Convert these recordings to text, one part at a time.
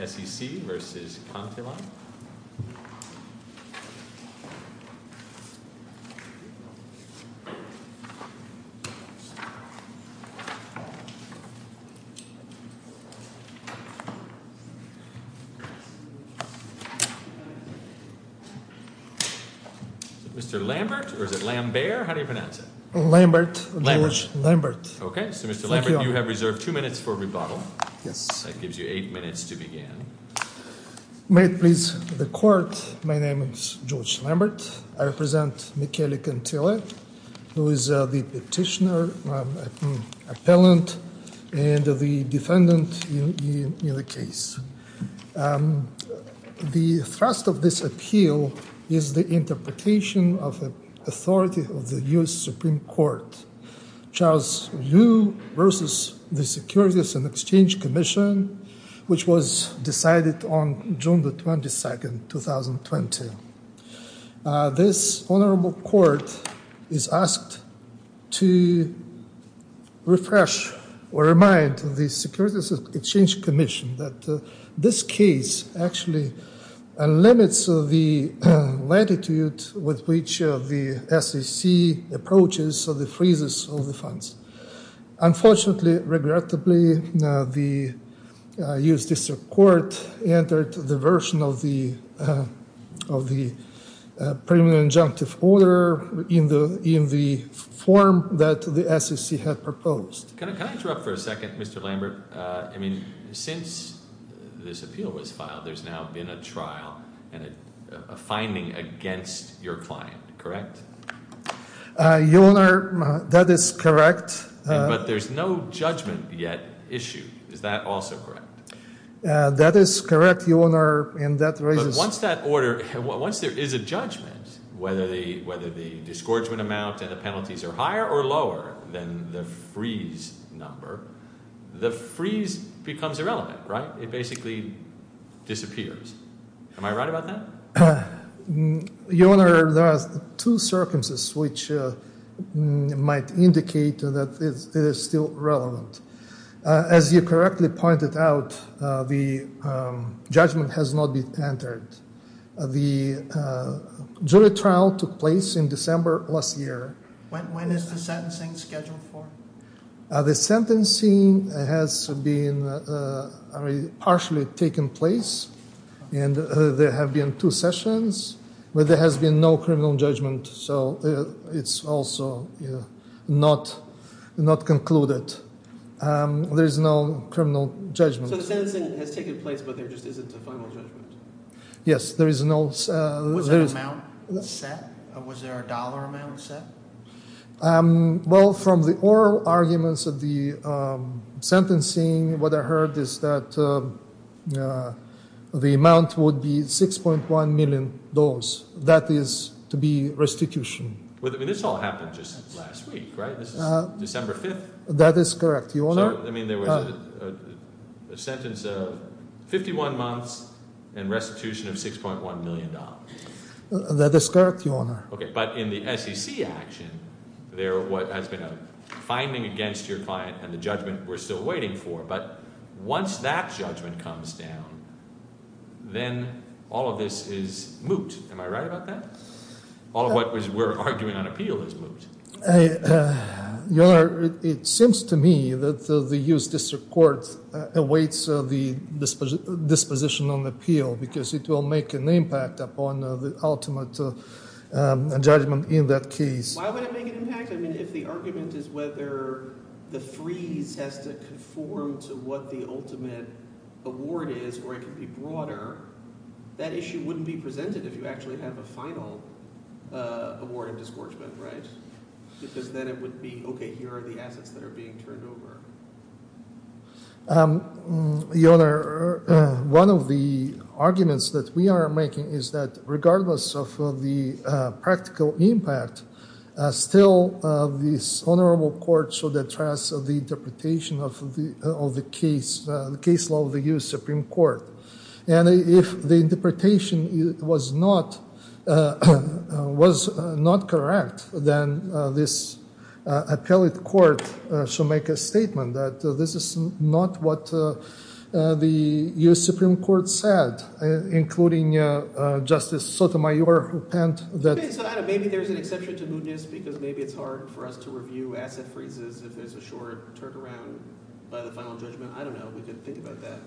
S.E.C. v. Conti-Line. Mr. Lambert? Or is it Lam-bear? How do you pronounce it? Lambert. Lambert. Lambert. Okay. So, Mr. Lambert, you have reserved two minutes for rebuttal. Yes. That gives you eight minutes to begin. May it please the Court, my name is George Lambert. I represent Michele Conti-Line, who is the petitioner, appellant, and the defendant in the case. The thrust of this appeal is the interpretation of the authority of the U.S. Supreme Court. Charles Yu v. The Securities & Exchange Commission, which was decided on June 22, 2020. This Honorable Court is asked to refresh or remind the Securities & Exchange Commission that this case actually limits the latitude with which the SEC approaches the freezes of the funds. Unfortunately, regrettably, the U.S. District Court entered the version of the preliminary injunctive order in the form that the SEC had proposed. Can I interrupt for a second, Mr. Lambert? I mean, since this appeal was filed, there's now been a trial and a finding against your client, correct? Your Honor, that is correct. But there's no judgment yet issue. Is that also correct? That is correct, Your Honor. But once there is a judgment, whether the disgorgement amount and the penalties are higher or lower than the freeze number, the freeze becomes irrelevant, right? It basically disappears. Am I right about that? Your Honor, there are two circumstances which might indicate that it is still relevant. As you correctly pointed out, the judgment has not been entered. The jury trial took place in December last year. When is the sentencing scheduled for? The sentencing has been partially taken place, and there have been two sessions. But there has been no criminal judgment, so it's also not concluded. There is no criminal judgment. So the sentencing has taken place, but there just isn't a final judgment? Yes, there is no... Was there an amount set? Was there a dollar amount set? Well, from the oral arguments of the sentencing, what I heard is that the amount would be $6.1 million. That is to be restitution. But this all happened just last week, right? This is December 5th? That is correct, Your Honor. So, I mean, there was a sentence of 51 months and restitution of $6.1 million. That is correct, Your Honor. Okay, but in the SEC action, there has been a finding against your client and the judgment we're still waiting for. But once that judgment comes down, then all of this is moot. Am I right about that? All of what we're arguing on appeal is moot. Your Honor, it seems to me that the U.S. District Court awaits the disposition on appeal because it will make an impact upon the ultimate judgment in that case. Why would it make an impact? I mean, if the argument is whether the freeze has to conform to what the ultimate award is or it can be broader, that issue wouldn't be presented if you actually have a final award of disgorgement, right? Because then it would be, okay, here are the assets that are being turned over. Your Honor, one of the arguments that we are making is that regardless of the practical impact, still this honorable court should address the interpretation of the case law of the U.S. Supreme Court. And if the interpretation was not correct, then this appellate court should make a statement that this is not what the U.S. Supreme Court said, including Justice Sotomayor who penned that – Maybe there's an exception to mootness because maybe it's hard for us to review asset freezes if there's a short turnaround by the final judgment. I don't know. We could think about that.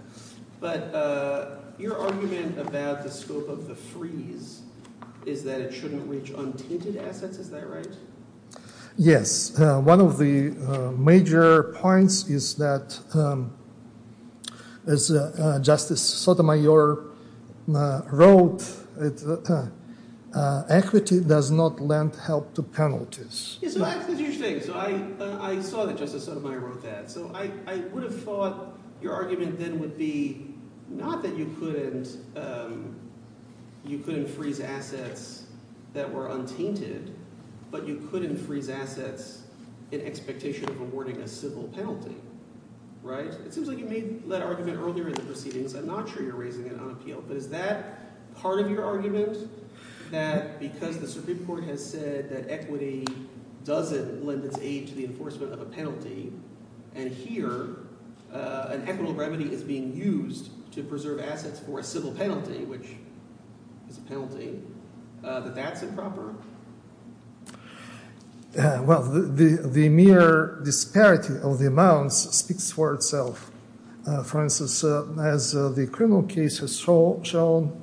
But your argument about the scope of the freeze is that it shouldn't reach untinted assets. Is that right? Yes. One of the major points is that Justice Sotomayor wrote equity does not lend help to penalties. So that's the huge thing. So I saw that Justice Sotomayor wrote that. So I would have thought your argument then would be not that you couldn't freeze assets that were untinted, but you couldn't freeze assets in expectation of awarding a civil penalty. It seems like you made that argument earlier in the proceedings. I'm not sure you're raising it on appeal. But is that part of your argument that because the Supreme Court has said that equity doesn't lend its aid to the enforcement of a penalty and here an equitable remedy is being used to preserve assets for a civil penalty, which is a penalty, that that's improper? Well, the mere disparity of the amounts speaks for itself. For instance, as the criminal case has shown,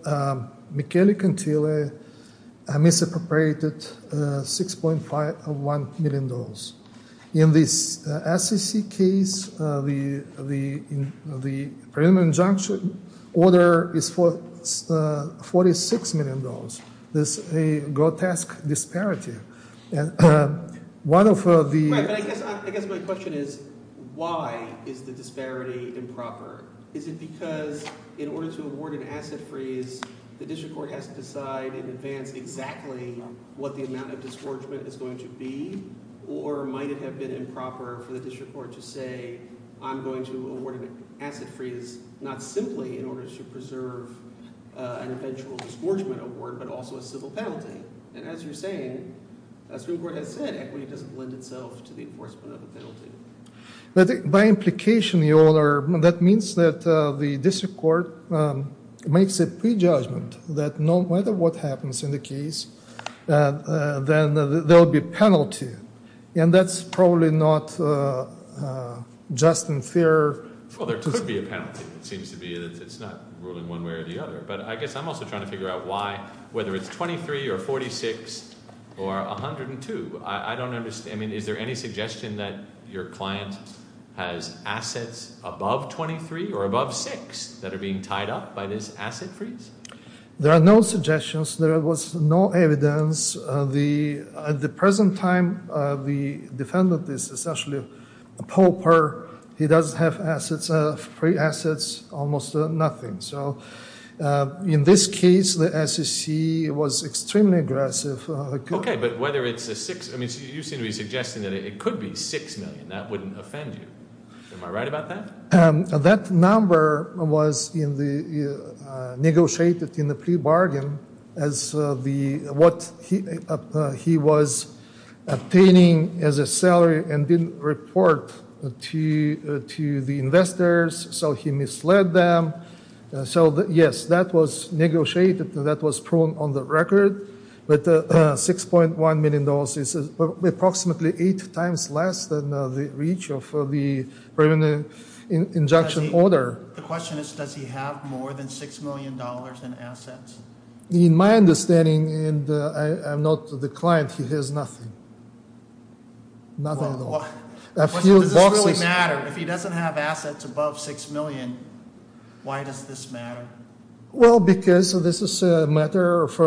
Michele Cantile misappropriated $6.5 million. In this SEC case, the preliminary injunction order is $46 million. This is a grotesque disparity. Right, but I guess my question is why is the disparity improper? Is it because in order to award an asset freeze, the district court has to decide in advance exactly what the amount of disgorgement is going to be? Or might it have been improper for the district court to say I'm going to award an asset freeze not simply in order to preserve an eventual disgorgement award, but also a civil penalty? And as you're saying, as the Supreme Court has said, equity doesn't lend itself to the enforcement of a penalty. By implication, Your Honor, that means that the district court makes a prejudgment that no matter what happens in the case, there will be a penalty. And that's probably not just and fair. Well, there could be a penalty, it seems to be. It's not ruling one way or the other. But I guess I'm also trying to figure out why, whether it's $23 or $46 or $102. I don't understand. I mean, is there any suggestion that your client has assets above $23 or above $6 that are being tied up by this asset freeze? There are no suggestions. There was no evidence. At the present time, the defendant is essentially a pauper. He doesn't have assets, free assets, almost nothing. So in this case, the SEC was extremely aggressive. OK, but whether it's a six, I mean, you seem to be suggesting that it could be $6 million. That wouldn't offend you. Am I right about that? That number was negotiated in the pre-bargain as what he was obtaining as a salary and didn't report to the investors. So he misled them. So, yes, that was negotiated. That was proven on the record. But $6.1 million is approximately eight times less than the reach of the permanent injunction order. The question is, does he have more than $6 million in assets? In my understanding, and I'm not the client, he has nothing. Nothing at all. Does this really matter? If he doesn't have assets above $6 million, why does this matter? Well, because this is a matter of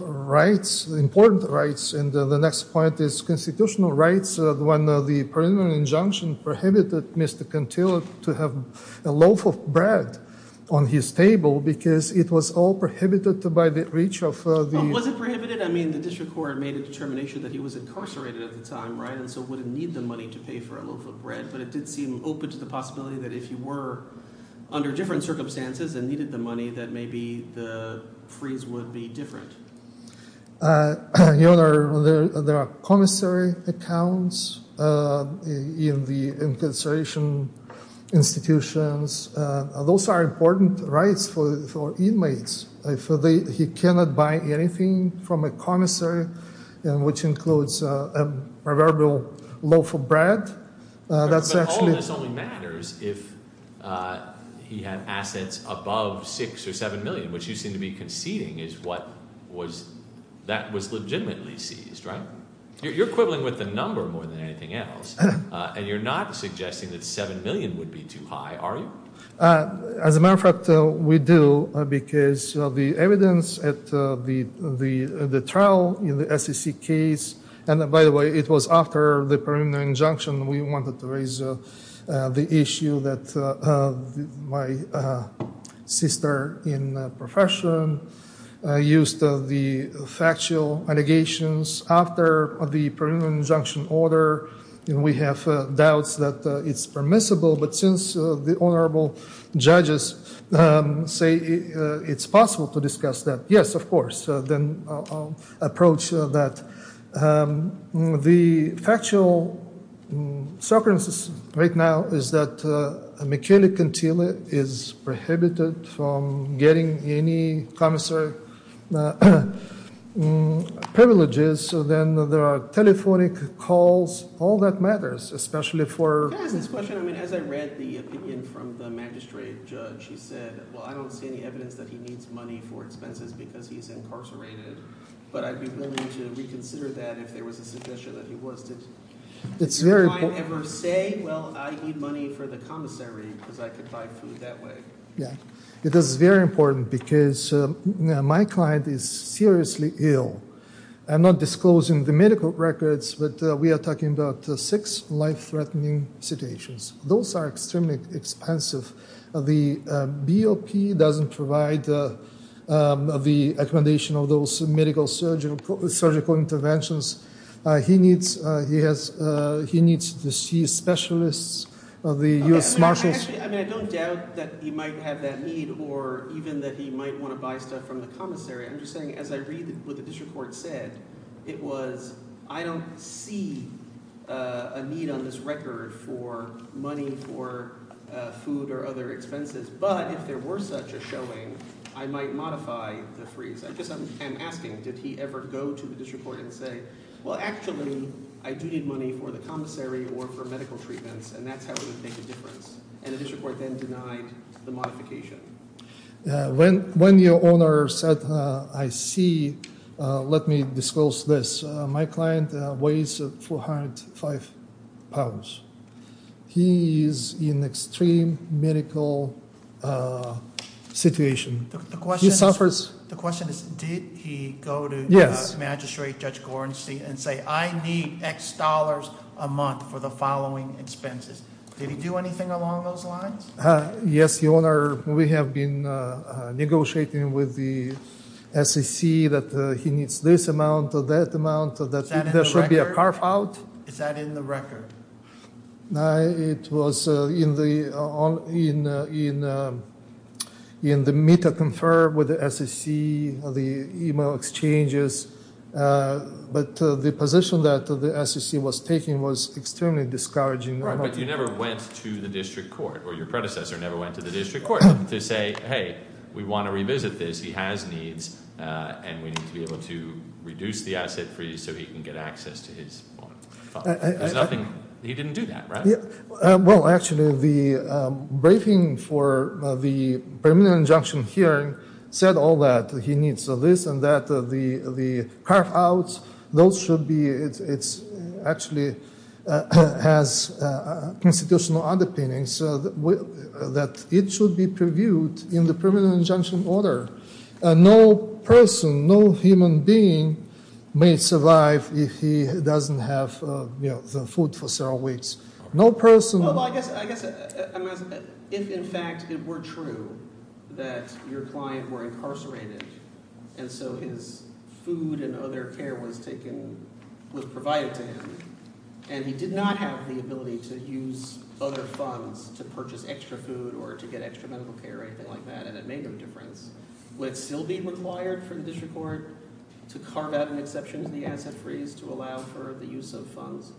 rights, important rights. And the next point is constitutional rights. When the permanent injunction prohibited Mr. Cantillo to have a loaf of bread on his table because it was all prohibited by the reach of the... Was it prohibited? I mean, the district court made a determination that he was incarcerated at the time, right? And so wouldn't need the money to pay for a loaf of bread. But it did seem open to the possibility that if you were under different circumstances and needed the money, that maybe the freeze would be different. Your Honor, there are commissary accounts in the incarceration institutions. Those are important rights for inmates. He cannot buy anything from a commissary, which includes a proverbial loaf of bread. That's actually... But all of this only matters if he had assets above $6 or $7 million, which you seem to be conceding is what was, that was legitimately seized, right? You're quibbling with the number more than anything else. And you're not suggesting that $7 million would be too high, are you? As a matter of fact, we do, because the evidence at the trial in the SEC case, and by the way, it was after the preliminary injunction. We wanted to raise the issue that my sister in the profession used the factual allegations after the preliminary injunction order. And we have doubts that it's permissible. But since the honorable judges say it's possible to discuss that, yes, of course. Then I'll approach that. The factual circumstances right now is that McKinley-Cantile is prohibited from getting any commissary privileges. Then there are telephonic calls. All that matters, especially for... Can I ask this question? I mean, as I read the opinion from the magistrate judge, he said, well, I don't see any evidence that he needs money for expenses because he's incarcerated. But I'd be willing to reconsider that if there was a suggestion that he was. Did your client ever say, well, I need money for the commissary because I could buy food that way? Yeah. It is very important because my client is seriously ill. I'm not disclosing the medical records, but we are talking about six life-threatening situations. Those are extremely expensive. The BOP doesn't provide the accommodation of those medical surgical interventions. He needs to see specialists of the U.S. Marshals. I mean, I don't doubt that he might have that need or even that he might want to buy stuff from the commissary. I'm just saying as I read what the district court said, it was, I don't see a need on this record for money for food or other expenses. But if there were such a showing, I might modify the freeze. I just am asking, did he ever go to the district court and say, well, actually, I do need money for the commissary or for medical treatments, and that's how it would make a difference? And the district court then denied the modification. When your owner said, I see, let me disclose this. My client weighs 405 pounds. He is in extreme medical situation. He suffers. The question is, did he go to Magistrate Judge Gorenstein and say, I need X dollars a month for the following expenses? Did he do anything along those lines? Yes, Your Honor. We have been negotiating with the SEC that he needs this amount or that amount. There should be a carve out. Is that in the record? It was in the meet and confer with the SEC, the email exchanges. But the position that the SEC was taking was extremely discouraging. Right, but you never went to the district court or your predecessor never went to the district court to say, hey, we want to revisit this. He has needs, and we need to be able to reduce the asset freeze so he can get access to his fund. There's nothing. He didn't do that, right? Well, actually, the briefing for the permanent injunction hearing said all that. He needs this and that. The carve outs, those should be, it actually has constitutional underpinnings that it should be reviewed in the permanent injunction order. No person, no human being may survive if he doesn't have the food for several weeks. No person. Well, I guess if in fact it were true that your client were incarcerated and so his food and other care was taken, was provided to him, and he did not have the ability to use other funds to purchase extra food or to get extra medical care or anything like that, and it made no difference, would it still be required for the district court to carve out an exception to the asset freeze to allow for the use of funds?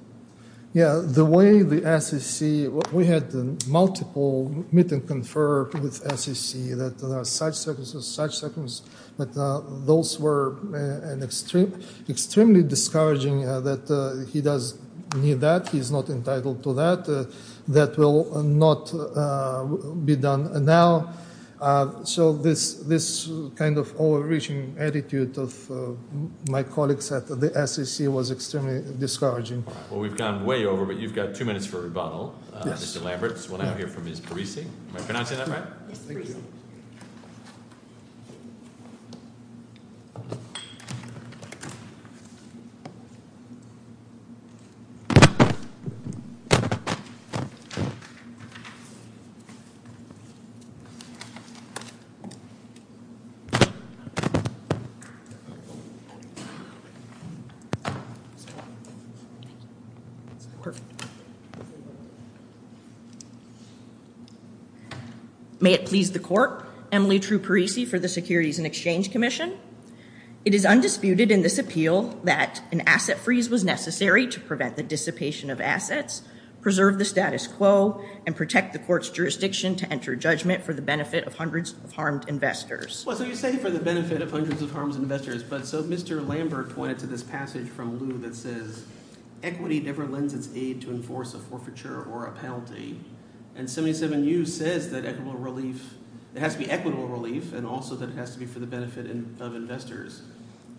Yeah, the way the SEC, we had multiple meetings conferred with SEC that there are such circumstances, such circumstances, but those were extremely discouraging that he does need that. He's not entitled to that. That will not be done. And now, so this kind of overreaching attitude of my colleagues at the SEC was extremely discouraging. Well, we've gone way over, but you've got two minutes for rebuttal, Mr. Lambert, so we'll now hear from Ms. Parisi. Am I pronouncing that right? Yes, thank you. Perfect. May it please the court, Emily True Parisi for the Securities and Exchange Commission. It is undisputed in this appeal that an asset freeze was necessary to prevent the dissipation of assets, preserve the status quo, and protect the court's jurisdiction to enter judgment for the benefit of hundreds of harmed investors. Well, so you say for the benefit of hundreds of harmed investors, but so Mr. Lambert pointed to this passage from Lew that says equity never lends its aid to enforce a forfeiture or a penalty, and 77U says that it has to be equitable relief and also that it has to be for the benefit of investors.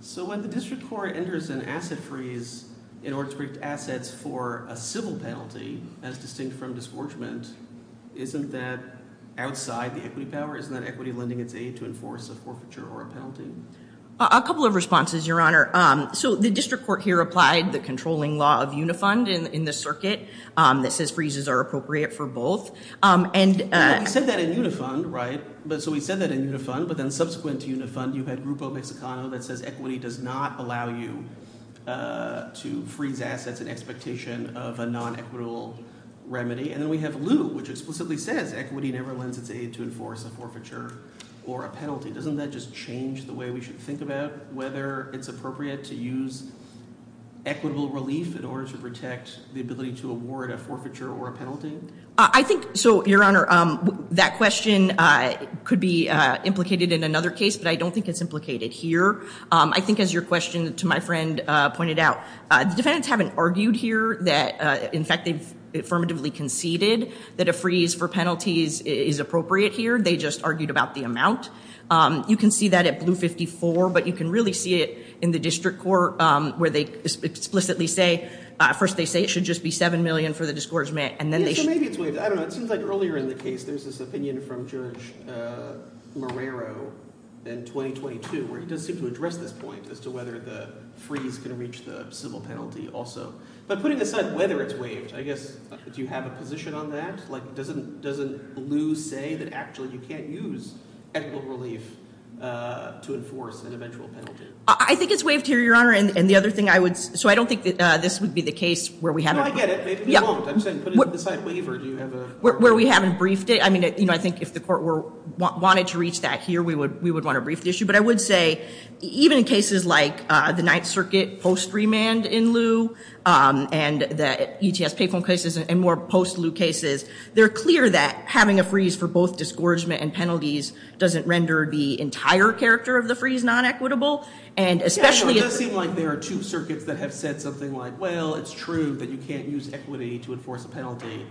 So when the district court enters an asset freeze in order to protect assets for a civil penalty as distinct from disgorgement, isn't that outside the equity power? Isn't that equity lending its aid to enforce a forfeiture or a penalty? A couple of responses, Your Honor. So the district court here applied the controlling law of Unifund in the circuit that says freezes are appropriate for both. Well, we said that in Unifund, right? So we said that in Unifund, but then subsequent to Unifund, you had Grupo Mexicano that says equity does not allow you to freeze assets in expectation of a non-equitable remedy. And then we have Lew, which explicitly says equity never lends its aid to enforce a forfeiture or a penalty. Doesn't that just change the way we should think about whether it's appropriate to use equitable relief in order to protect the ability to award a forfeiture or a penalty? I think, so, Your Honor, that question could be implicated in another case, but I don't think it's implicated here. I think, as your question to my friend pointed out, the defendants haven't argued here that, in fact, they've affirmatively conceded that a freeze for penalties is appropriate here. They just argued about the amount. You can see that at Blue 54, but you can really see it in the district court where they explicitly say, first they say it should just be $7 million for the discouragement, and then they- Yeah, so maybe it's waived. I don't know. It seems like earlier in the case there's this opinion from Judge Marrero in 2022 where he does seem to address this point as to whether the freeze can reach the civil penalty also. But putting aside whether it's waived, I guess, do you have a position on that? Like, doesn't Lew say that actually you can't use equitable relief to enforce an eventual penalty? I think it's waived here, Your Honor, and the other thing I would- so I don't think that this would be the case where we haven't- No, I get it. Maybe it won't. I'm saying put it aside waiver. Do you have a- Where we haven't briefed it. I mean, I think if the court wanted to reach that here, we would want to brief the issue. But I would say even in cases like the Ninth Circuit post-remand in Lew and the ETS payphone cases and more post-Lew cases, they're clear that having a freeze for both discouragement and penalties doesn't render the entire character of the freeze non-equitable, and especially- Yeah, well, it does seem like there are two circuits that have said something like, well, it's true that you can't use equity to enforce a penalty,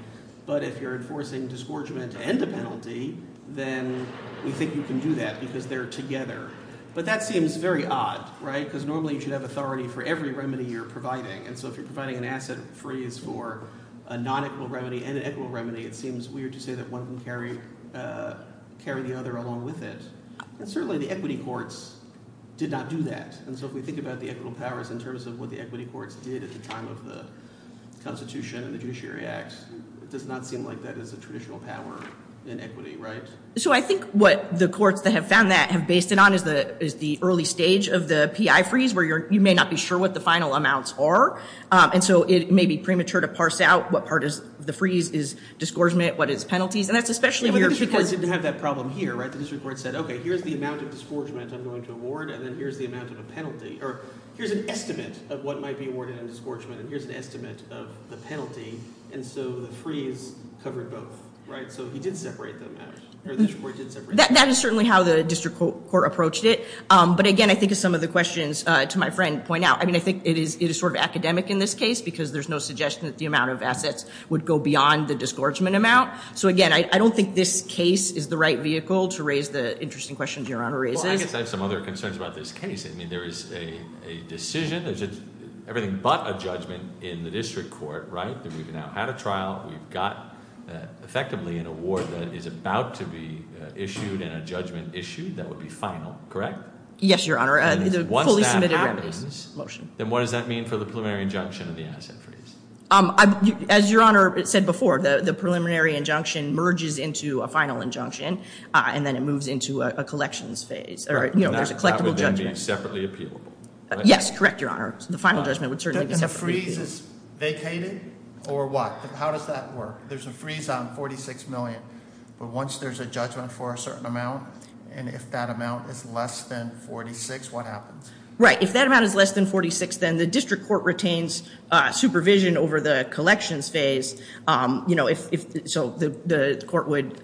but if you're enforcing discouragement and a penalty, then we think you can do that because they're together. But that seems very odd, right? Because normally you should have authority for every remedy you're providing. And so if you're providing an asset freeze for a non-equitable remedy and an equitable remedy, it seems weird to say that one can carry the other along with it. And certainly the equity courts did not do that. And so if we think about the equitable powers in terms of what the equity courts did at the time of the Constitution and the Judiciary Acts, it does not seem like that is a traditional power in equity, right? So I think what the courts that have found that have based it on is the early stage of the PI freeze where you may not be sure what the final amounts are. And so it may be premature to parse out what part of the freeze is discouragement, what is penalties. And that's especially when you're- The district court didn't have that problem here, right? The district court said, okay, here's the amount of discouragement I'm going to award, and then here's the amount of a penalty. Or here's an estimate of what might be awarded on discouragement, and here's an estimate of the penalty. And so the freeze covered both, right? So he did separate them out, or the district court did separate them out. That is certainly how the district court approached it. But, again, I think as some of the questions to my friend point out, I mean, I think it is sort of academic in this case because there's no suggestion that the amount of assets would go beyond the discouragement amount. So, again, I don't think this case is the right vehicle to raise the interesting questions Your Honor raises. Well, I guess I have some other concerns about this case. I mean, there is a decision. There's everything but a judgment in the district court, right, that we've now had a trial. We've got effectively an award that is about to be issued and a judgment issued that would be final, correct? Yes, Your Honor. And once that happens- The fully submitted remedies motion. Then what does that mean for the preliminary injunction of the asset freeze? As Your Honor said before, the preliminary injunction merges into a final injunction, and then it moves into a collections phase. There's a collectible judgment. That would then be separately appealable, right? Yes, correct, Your Honor. The final judgment would certainly be separately appealable. The freeze is vacated, or what? How does that work? There's a freeze on $46 million, but once there's a judgment for a certain amount, and if that amount is less than $46, what happens? Right. If that amount is less than $46, then the district court retains supervision over the collections phase. So the court would,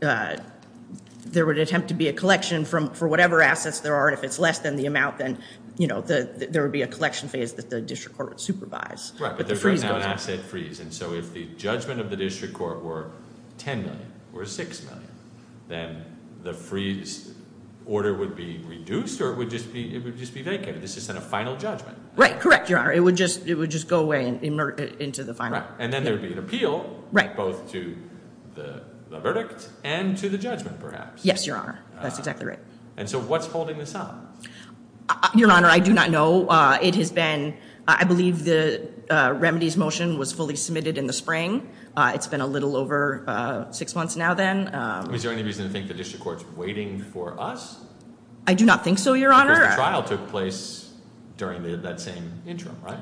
there would attempt to be a collection for whatever assets there are, and if it's less than the amount, then there would be a collection phase that the district court would supervise. Right, but there's right now an asset freeze, and so if the judgment of the district court were $10 million or $6 million, then the freeze order would be reduced, or it would just be vacant? This isn't a final judgment. Right, correct, Your Honor. It would just go away and emerge into the final. And then there would be an appeal, both to the verdict and to the judgment, perhaps. Yes, Your Honor. That's exactly right. And so what's holding this up? Your Honor, I do not know. It has been, I believe the remedies motion was fully submitted in the spring. It's been a little over six months now then. Is there any reason to think the district court's waiting for us? I do not think so, Your Honor. Because the trial took place during that same interim, right?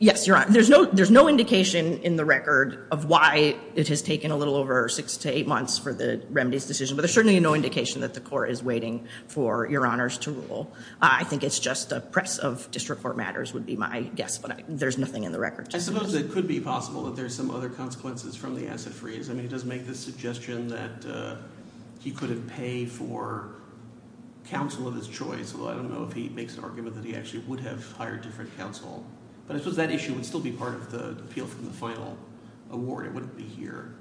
Yes, Your Honor. There's no indication in the record of why it has taken a little over six to eight months for the remedies decision, but there's certainly no indication that the court is waiting for Your Honors to rule. I think it's just a press of district court matters would be my guess, but there's nothing in the record. I suppose it could be possible that there's some other consequences from the asset freeze. I mean it does make the suggestion that he could have paid for counsel of his choice, although I don't know if he makes an argument that he actually would have hired different counsel. But I suppose that issue would still be part of the appeal from the final award. It wouldn't be here.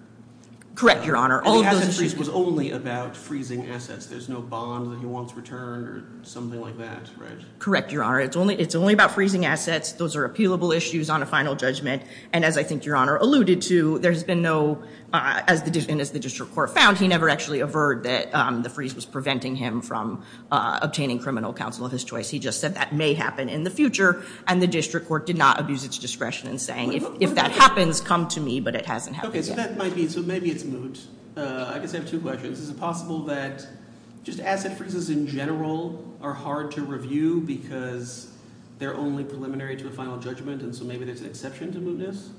Correct, Your Honor. The asset freeze was only about freezing assets. There's no bond that he wants returned or something like that, right? Correct, Your Honor. It's only about freezing assets. Those are appealable issues on a final judgment. And as I think Your Honor alluded to, there's been no – and as the district court found, he never actually averred that the freeze was preventing him from obtaining criminal counsel of his choice. He just said that may happen in the future, and the district court did not abuse its discretion in saying, if that happens, come to me, but it hasn't happened yet. Okay, so that might be – so maybe it's moot. I guess I have two questions. Is it possible that just asset freezes in general are hard to review because they're only preliminary to a final judgment, and so maybe there's an exception to mootness?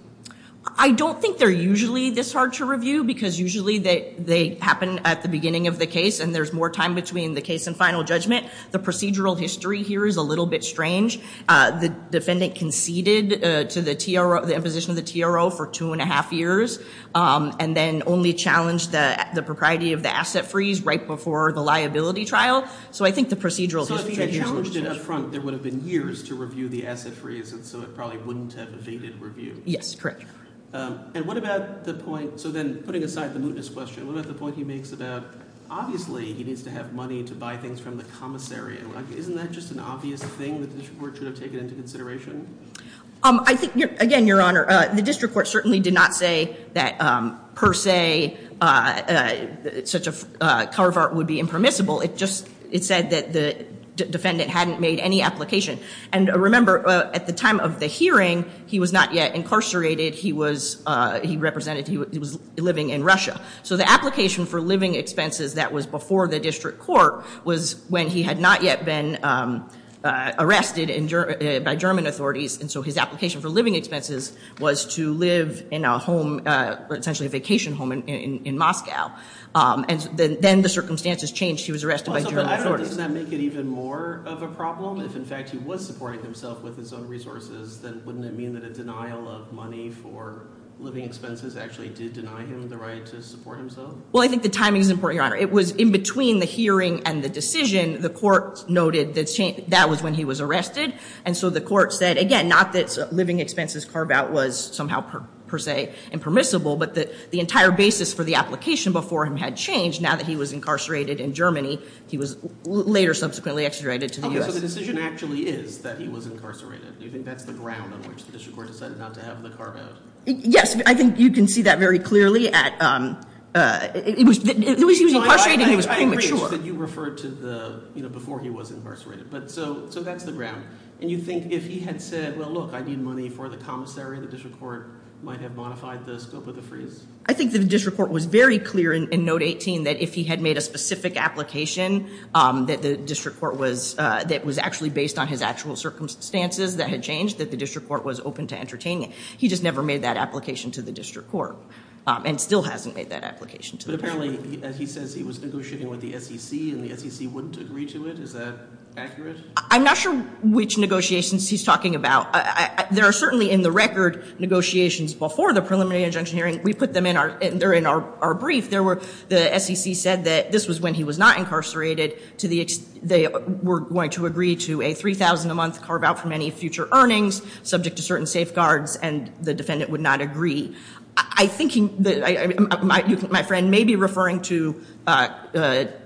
I don't think they're usually this hard to review because usually they happen at the beginning of the case and there's more time between the case and final judgment. The procedural history here is a little bit strange. The defendant conceded to the imposition of the TRO for two and a half years and then only challenged the propriety of the asset freeze right before the liability trial. So I think the procedural history here is a little strange. So if he had challenged it up front, there would have been years to review the asset freeze, and so it probably wouldn't have evaded review. Yes, correct. And what about the point – so then putting aside the mootness question, what about the point he makes about obviously he needs to have money to buy things from the commissary? Isn't that just an obvious thing that the district court should have taken into consideration? I think, again, Your Honor, the district court certainly did not say that per se such a carve-art would be impermissible. It just said that the defendant hadn't made any application. And remember, at the time of the hearing, he was not yet incarcerated. He represented he was living in Russia. So the application for living expenses that was before the district court was when he had not yet been arrested by German authorities, and so his application for living expenses was to live in a home, essentially a vacation home in Moscow. And then the circumstances changed. He was arrested by German authorities. Doesn't that make it even more of a problem? If, in fact, he was supporting himself with his own resources, then wouldn't it mean that a denial of money for living expenses actually did deny him the right to support himself? Well, I think the timing is important, Your Honor. It was in between the hearing and the decision. The court noted that that was when he was arrested. And so the court said, again, not that living expenses carve-out was somehow per se impermissible, but that the entire basis for the application before him had changed. Now that he was incarcerated in Germany, he was later subsequently extradited to the U.S. Okay, so the decision actually is that he was incarcerated. Do you think that's the ground on which the district court decided not to have the carve-out? Yes, I think you can see that very clearly. It was that he was incarcerated and he was premature. I didn't realize that you referred to before he was incarcerated. So that's the ground. And you think if he had said, well, look, I need money for the commissary, the district court might have modified the scope of the freeze? I think the district court was very clear in Note 18 that if he had made a specific application that was actually based on his actual circumstances that had changed, that the district court was open to entertaining it. He just never made that application to the district court and still hasn't made that application to the district court. But apparently, as he says, he was negotiating with the SEC and the SEC wouldn't agree to it. Is that accurate? I'm not sure which negotiations he's talking about. There are certainly in the record negotiations before the preliminary injunction hearing. We put them in our brief. The SEC said that this was when he was not incarcerated. They were going to agree to a $3,000 a month carve-out for many future earnings subject to certain safeguards, and the defendant would not agree. My friend may be referring to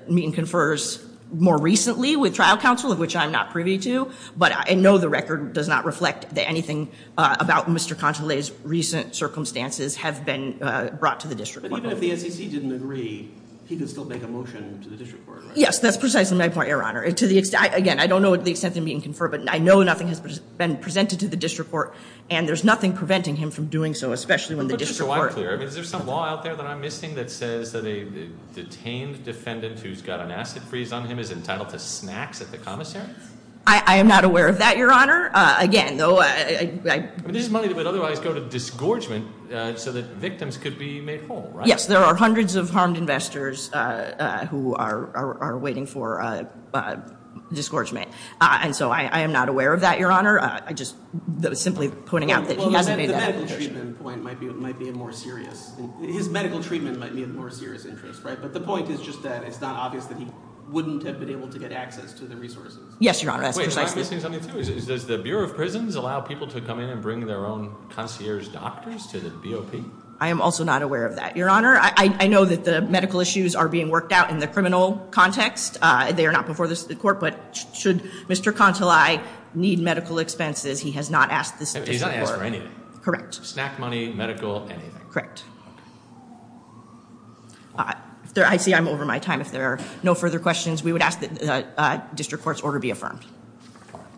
meet-and-confers more recently with trial counsel, of which I'm not privy to, but I know the record does not reflect that anything about Mr. Contole's recent circumstances have been brought to the district court. But even if the SEC didn't agree, he could still make a motion to the district court, right? Yes, that's precisely my point, Your Honor. Again, I don't know the extent of the meet-and-confer, but I know nothing has been presented to the district court, and there's nothing preventing him from doing so, especially when the district court Put it just so I'm clear. Is there some law out there that I'm missing that says that a detained defendant who's got an acid freeze on him is entitled to snacks at the commissary? I am not aware of that, Your Honor. Again, though I This is money that would otherwise go to disgorgement so that victims could be made whole, right? Yes, there are hundreds of harmed investors who are waiting for disgorgement. And so I am not aware of that, Your Honor. I just was simply pointing out that he hasn't made that The medical treatment point might be more serious. His medical treatment might be of more serious interest, right? But the point is just that it's not obvious that he wouldn't have been able to get access to the resources. Yes, Your Honor, that's precisely Wait, I'm missing something, too. Does the Bureau of Prisons allow people to come in and bring their own concierge doctors to the BOP? I am also not aware of that, Your Honor. I know that the medical issues are being worked out in the criminal context. They are not before the court. But should Mr. Contoli need medical expenses, he has not asked this before. He's not asked for anything. Correct. Snack money, medical, anything. Correct. I see I'm over my time. If there are no further questions, we would ask that the district court's order be affirmed.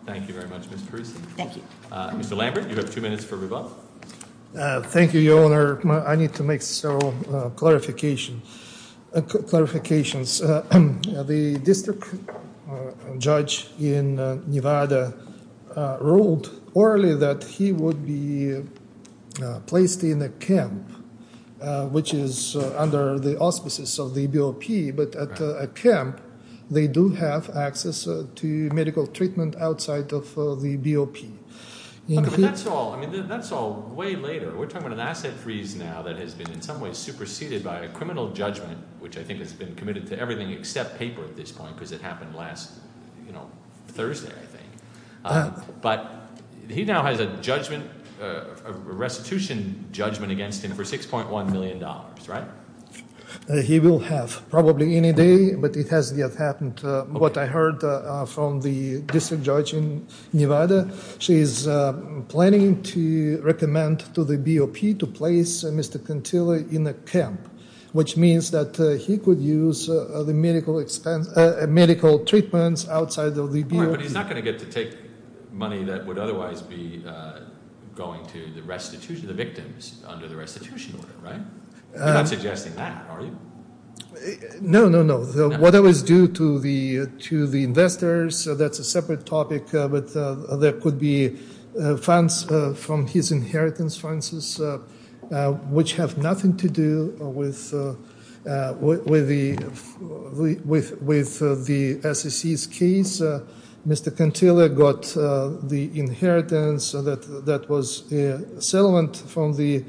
Thank you very much, Ms. Parisi. Thank you. Mr. Lambert, you have two minutes for rebuttal. Thank you, Your Honor. I need to make several clarifications. The district judge in Nevada ruled orally that he would be placed in a camp, which is under the auspices of the BOP. But at a camp, they do have access to medical treatment outside of the BOP. That's all way later. We're talking about an asset freeze now that has been in some ways superseded by a criminal judgment, which I think has been committed to everything except paper at this point because it happened last Thursday, I think. But he now has a judgment, a restitution judgment against him for $6.1 million, right? He will have probably any day, but it hasn't yet happened. And what I heard from the district judge in Nevada, she is planning to recommend to the BOP to place Mr. Contilla in a camp, which means that he could use the medical expense, medical treatments outside of the BOP. But he's not going to get to take money that would otherwise be going to the restitution, the victims under the restitution order, right? You're not suggesting that, are you? No, no, no. What I was due to the investors, that's a separate topic, but there could be funds from his inheritance, which have nothing to do with the SEC's case. Mr. Contilla got the inheritance that was a settlement from the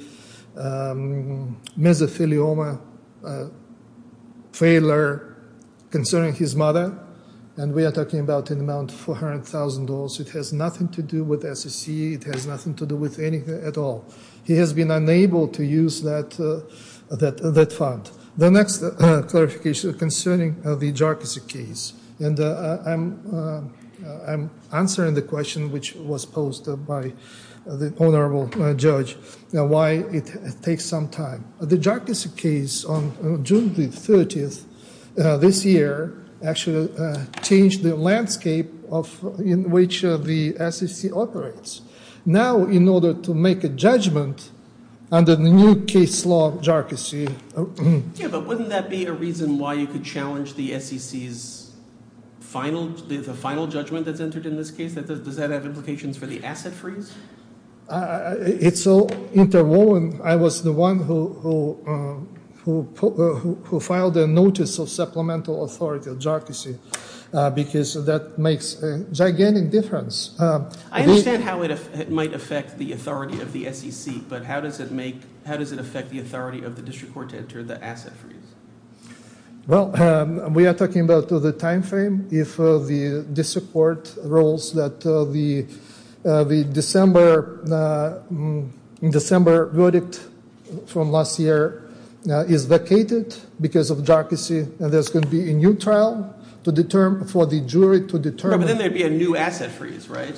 mesothelioma failure concerning his mother, and we are talking about an amount of $400,000. It has nothing to do with the SEC. It has nothing to do with anything at all. He has been unable to use that fund. The next clarification concerning the JARCISI case, and I'm answering the question which was posed by the honorable judge, why it takes some time. The JARCISI case on June 30th this year actually changed the landscape in which the SEC operates. Now, in order to make a judgment under the new case law of JARCISI. Yeah, but wouldn't that be a reason why you could challenge the SEC's final judgment that's entered in this case? Does that have implications for the asset freeze? It's all interwoven. I was the one who filed the notice of supplemental authority of JARCISI because that makes a gigantic difference. I understand how it might affect the authority of the SEC, but how does it affect the authority of the district court to enter the asset freeze? Well, we are talking about the time frame. If the district court rules that the December verdict from last year is vacated because of JARCISI, there's going to be a new trial for the jury to determine. But then there would be a new asset freeze, right?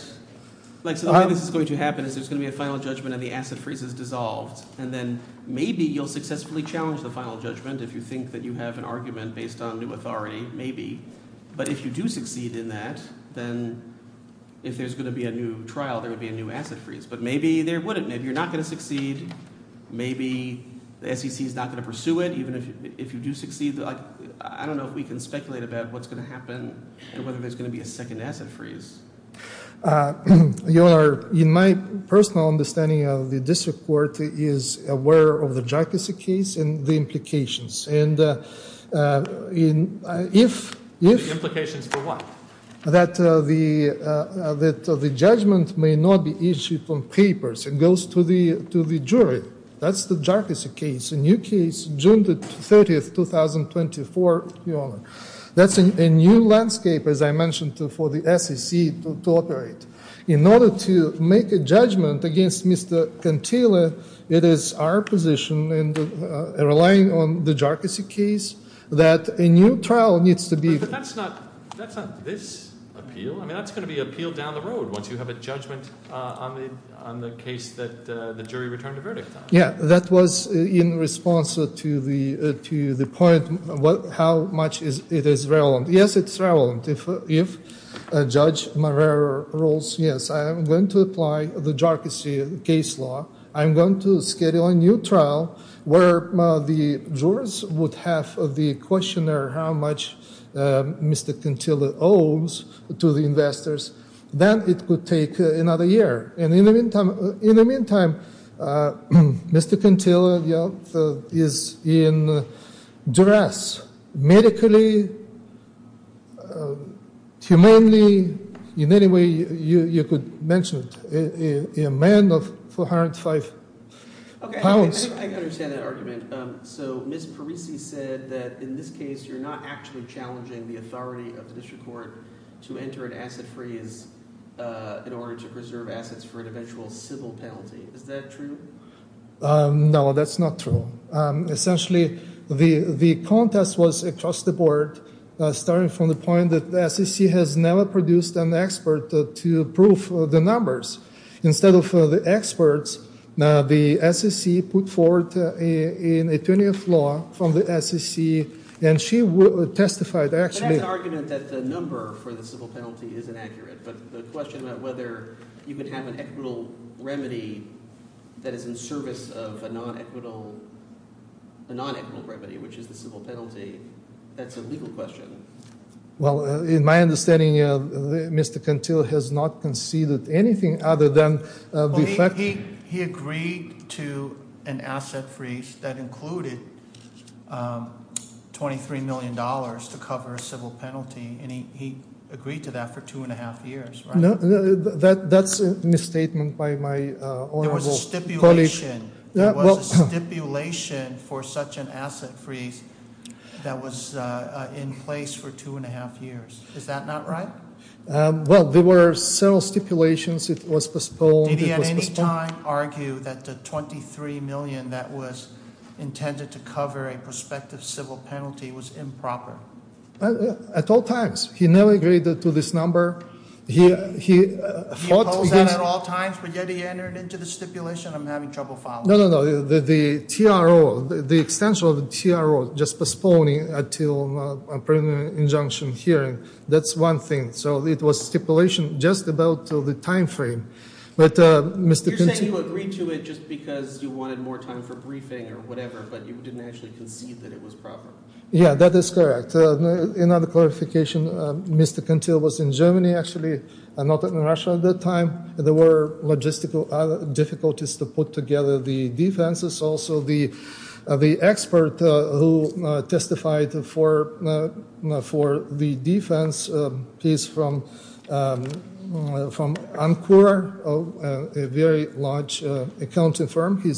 So the way this is going to happen is there's going to be a final judgment and the asset freeze is dissolved. And then maybe you'll successfully challenge the final judgment if you think that you have an argument based on new authority, maybe. But if you do succeed in that, then if there's going to be a new trial, there would be a new asset freeze. But maybe there wouldn't. Maybe you're not going to succeed. Maybe the SEC is not going to pursue it. I don't know if we can speculate about what's going to happen and whether there's going to be a second asset freeze. Your Honor, in my personal understanding of the district court, it is aware of the JARCISI case and the implications. The implications for what? That the judgment may not be issued from papers. It goes to the jury. That's the JARCISI case. It's a new case, June 30, 2024, Your Honor. That's a new landscape, as I mentioned, for the SEC to operate. In order to make a judgment against Mr. Cantillo, it is our position, relying on the JARCISI case, that a new trial needs to be- But that's not this appeal. I mean, that's going to be appealed down the road once you have a judgment on the case that the jury returned a verdict on. Yeah, that was in response to the point how much it is relevant. Yes, it's relevant. If Judge Marrero rules, yes, I am going to apply the JARCISI case law. I'm going to schedule a new trial where the jurors would have the questionnaire how much Mr. Cantillo owes to the investors. Then it could take another year. In the meantime, Mr. Cantillo is in duress medically, humanely, in any way you could mention it, a man of 405 pounds. Okay, I understand that argument. So Ms. Parisi said that in this case you're not actually challenging the authority of the district court to enter an asset freeze in order to preserve assets for an eventual civil penalty. Is that true? No, that's not true. Essentially, the contest was across the board, starting from the point that the SEC has never produced an expert to prove the numbers. Instead of the experts, the SEC put forward an attorney of law from the SEC, and she testified actually – But that's an argument that the number for the civil penalty is inaccurate. But the question about whether you could have an equitable remedy that is in service of a non-equitable remedy, which is the civil penalty, that's a legal question. Well, in my understanding, Mr. Cantillo has not conceded anything other than – He agreed to an asset freeze that included $23 million to cover a civil penalty, and he agreed to that for two and a half years, right? No, that's a misstatement by my honorable colleague. There was a stipulation for such an asset freeze that was in place for two and a half years. Is that not right? Well, there were several stipulations. It was postponed. Did he at any time argue that the $23 million that was intended to cover a prospective civil penalty was improper? At all times. He never agreed to this number. He opposed that at all times, but yet he entered into the stipulation. I'm having trouble following. No, no, no. The TRO, the extension of the TRO, just postponing until a preliminary injunction hearing, that's one thing. So it was stipulation just about the time frame. You're saying you agreed to it just because you wanted more time for briefing or whatever, but you didn't actually concede that it was proper. Yeah, that is correct. In other clarification, Mr. Cantil was in Germany, actually, not in Russia at that time. There were logistical difficulties to put together the defenses. Also, the expert who testified for the defense, he's from Ancora, a very large accounting firm. He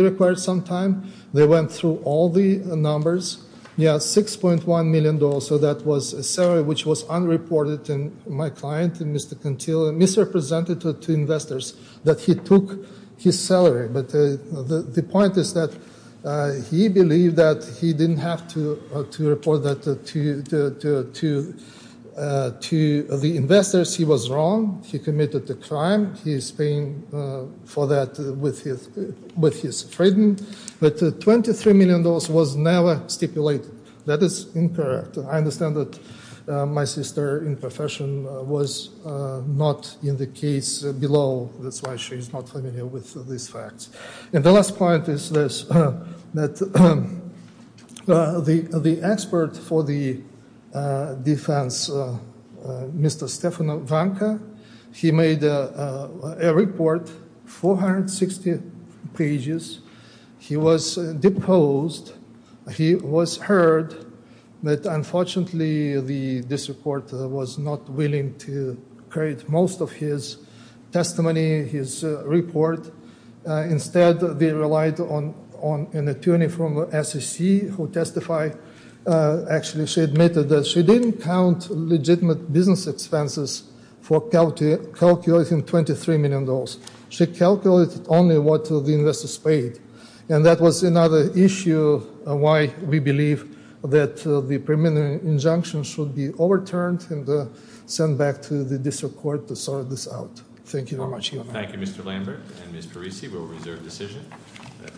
required some time. They went through all the numbers. Yeah, $6.1 million, so that was a salary which was unreported. And my client, Mr. Cantil, misrepresented to investors that he took his salary. But the point is that he believed that he didn't have to report that to the investors. He was wrong. He committed a crime. He is paying for that with his freedom. But $23 million was never stipulated. That is incorrect. I understand that my sister in profession was not in the case below. That's why she's not familiar with these facts. And the last point is this, that the expert for the defense, Mr. Stefan Vanka, he made a report, 460 pages. He was deposed. He was heard. But unfortunately, this report was not willing to create most of his testimony, his report. Instead, they relied on an attorney from SEC who testified. Actually, she admitted that she didn't count legitimate business expenses for calculating $23 million. She calculated only what the investors paid. And that was another issue why we believe that the permanent injunction should be overturned and sent back to the district court to sort this out. Thank you very much. Thank you, Mr. Lambert. And Ms. Parisi will reserve decision.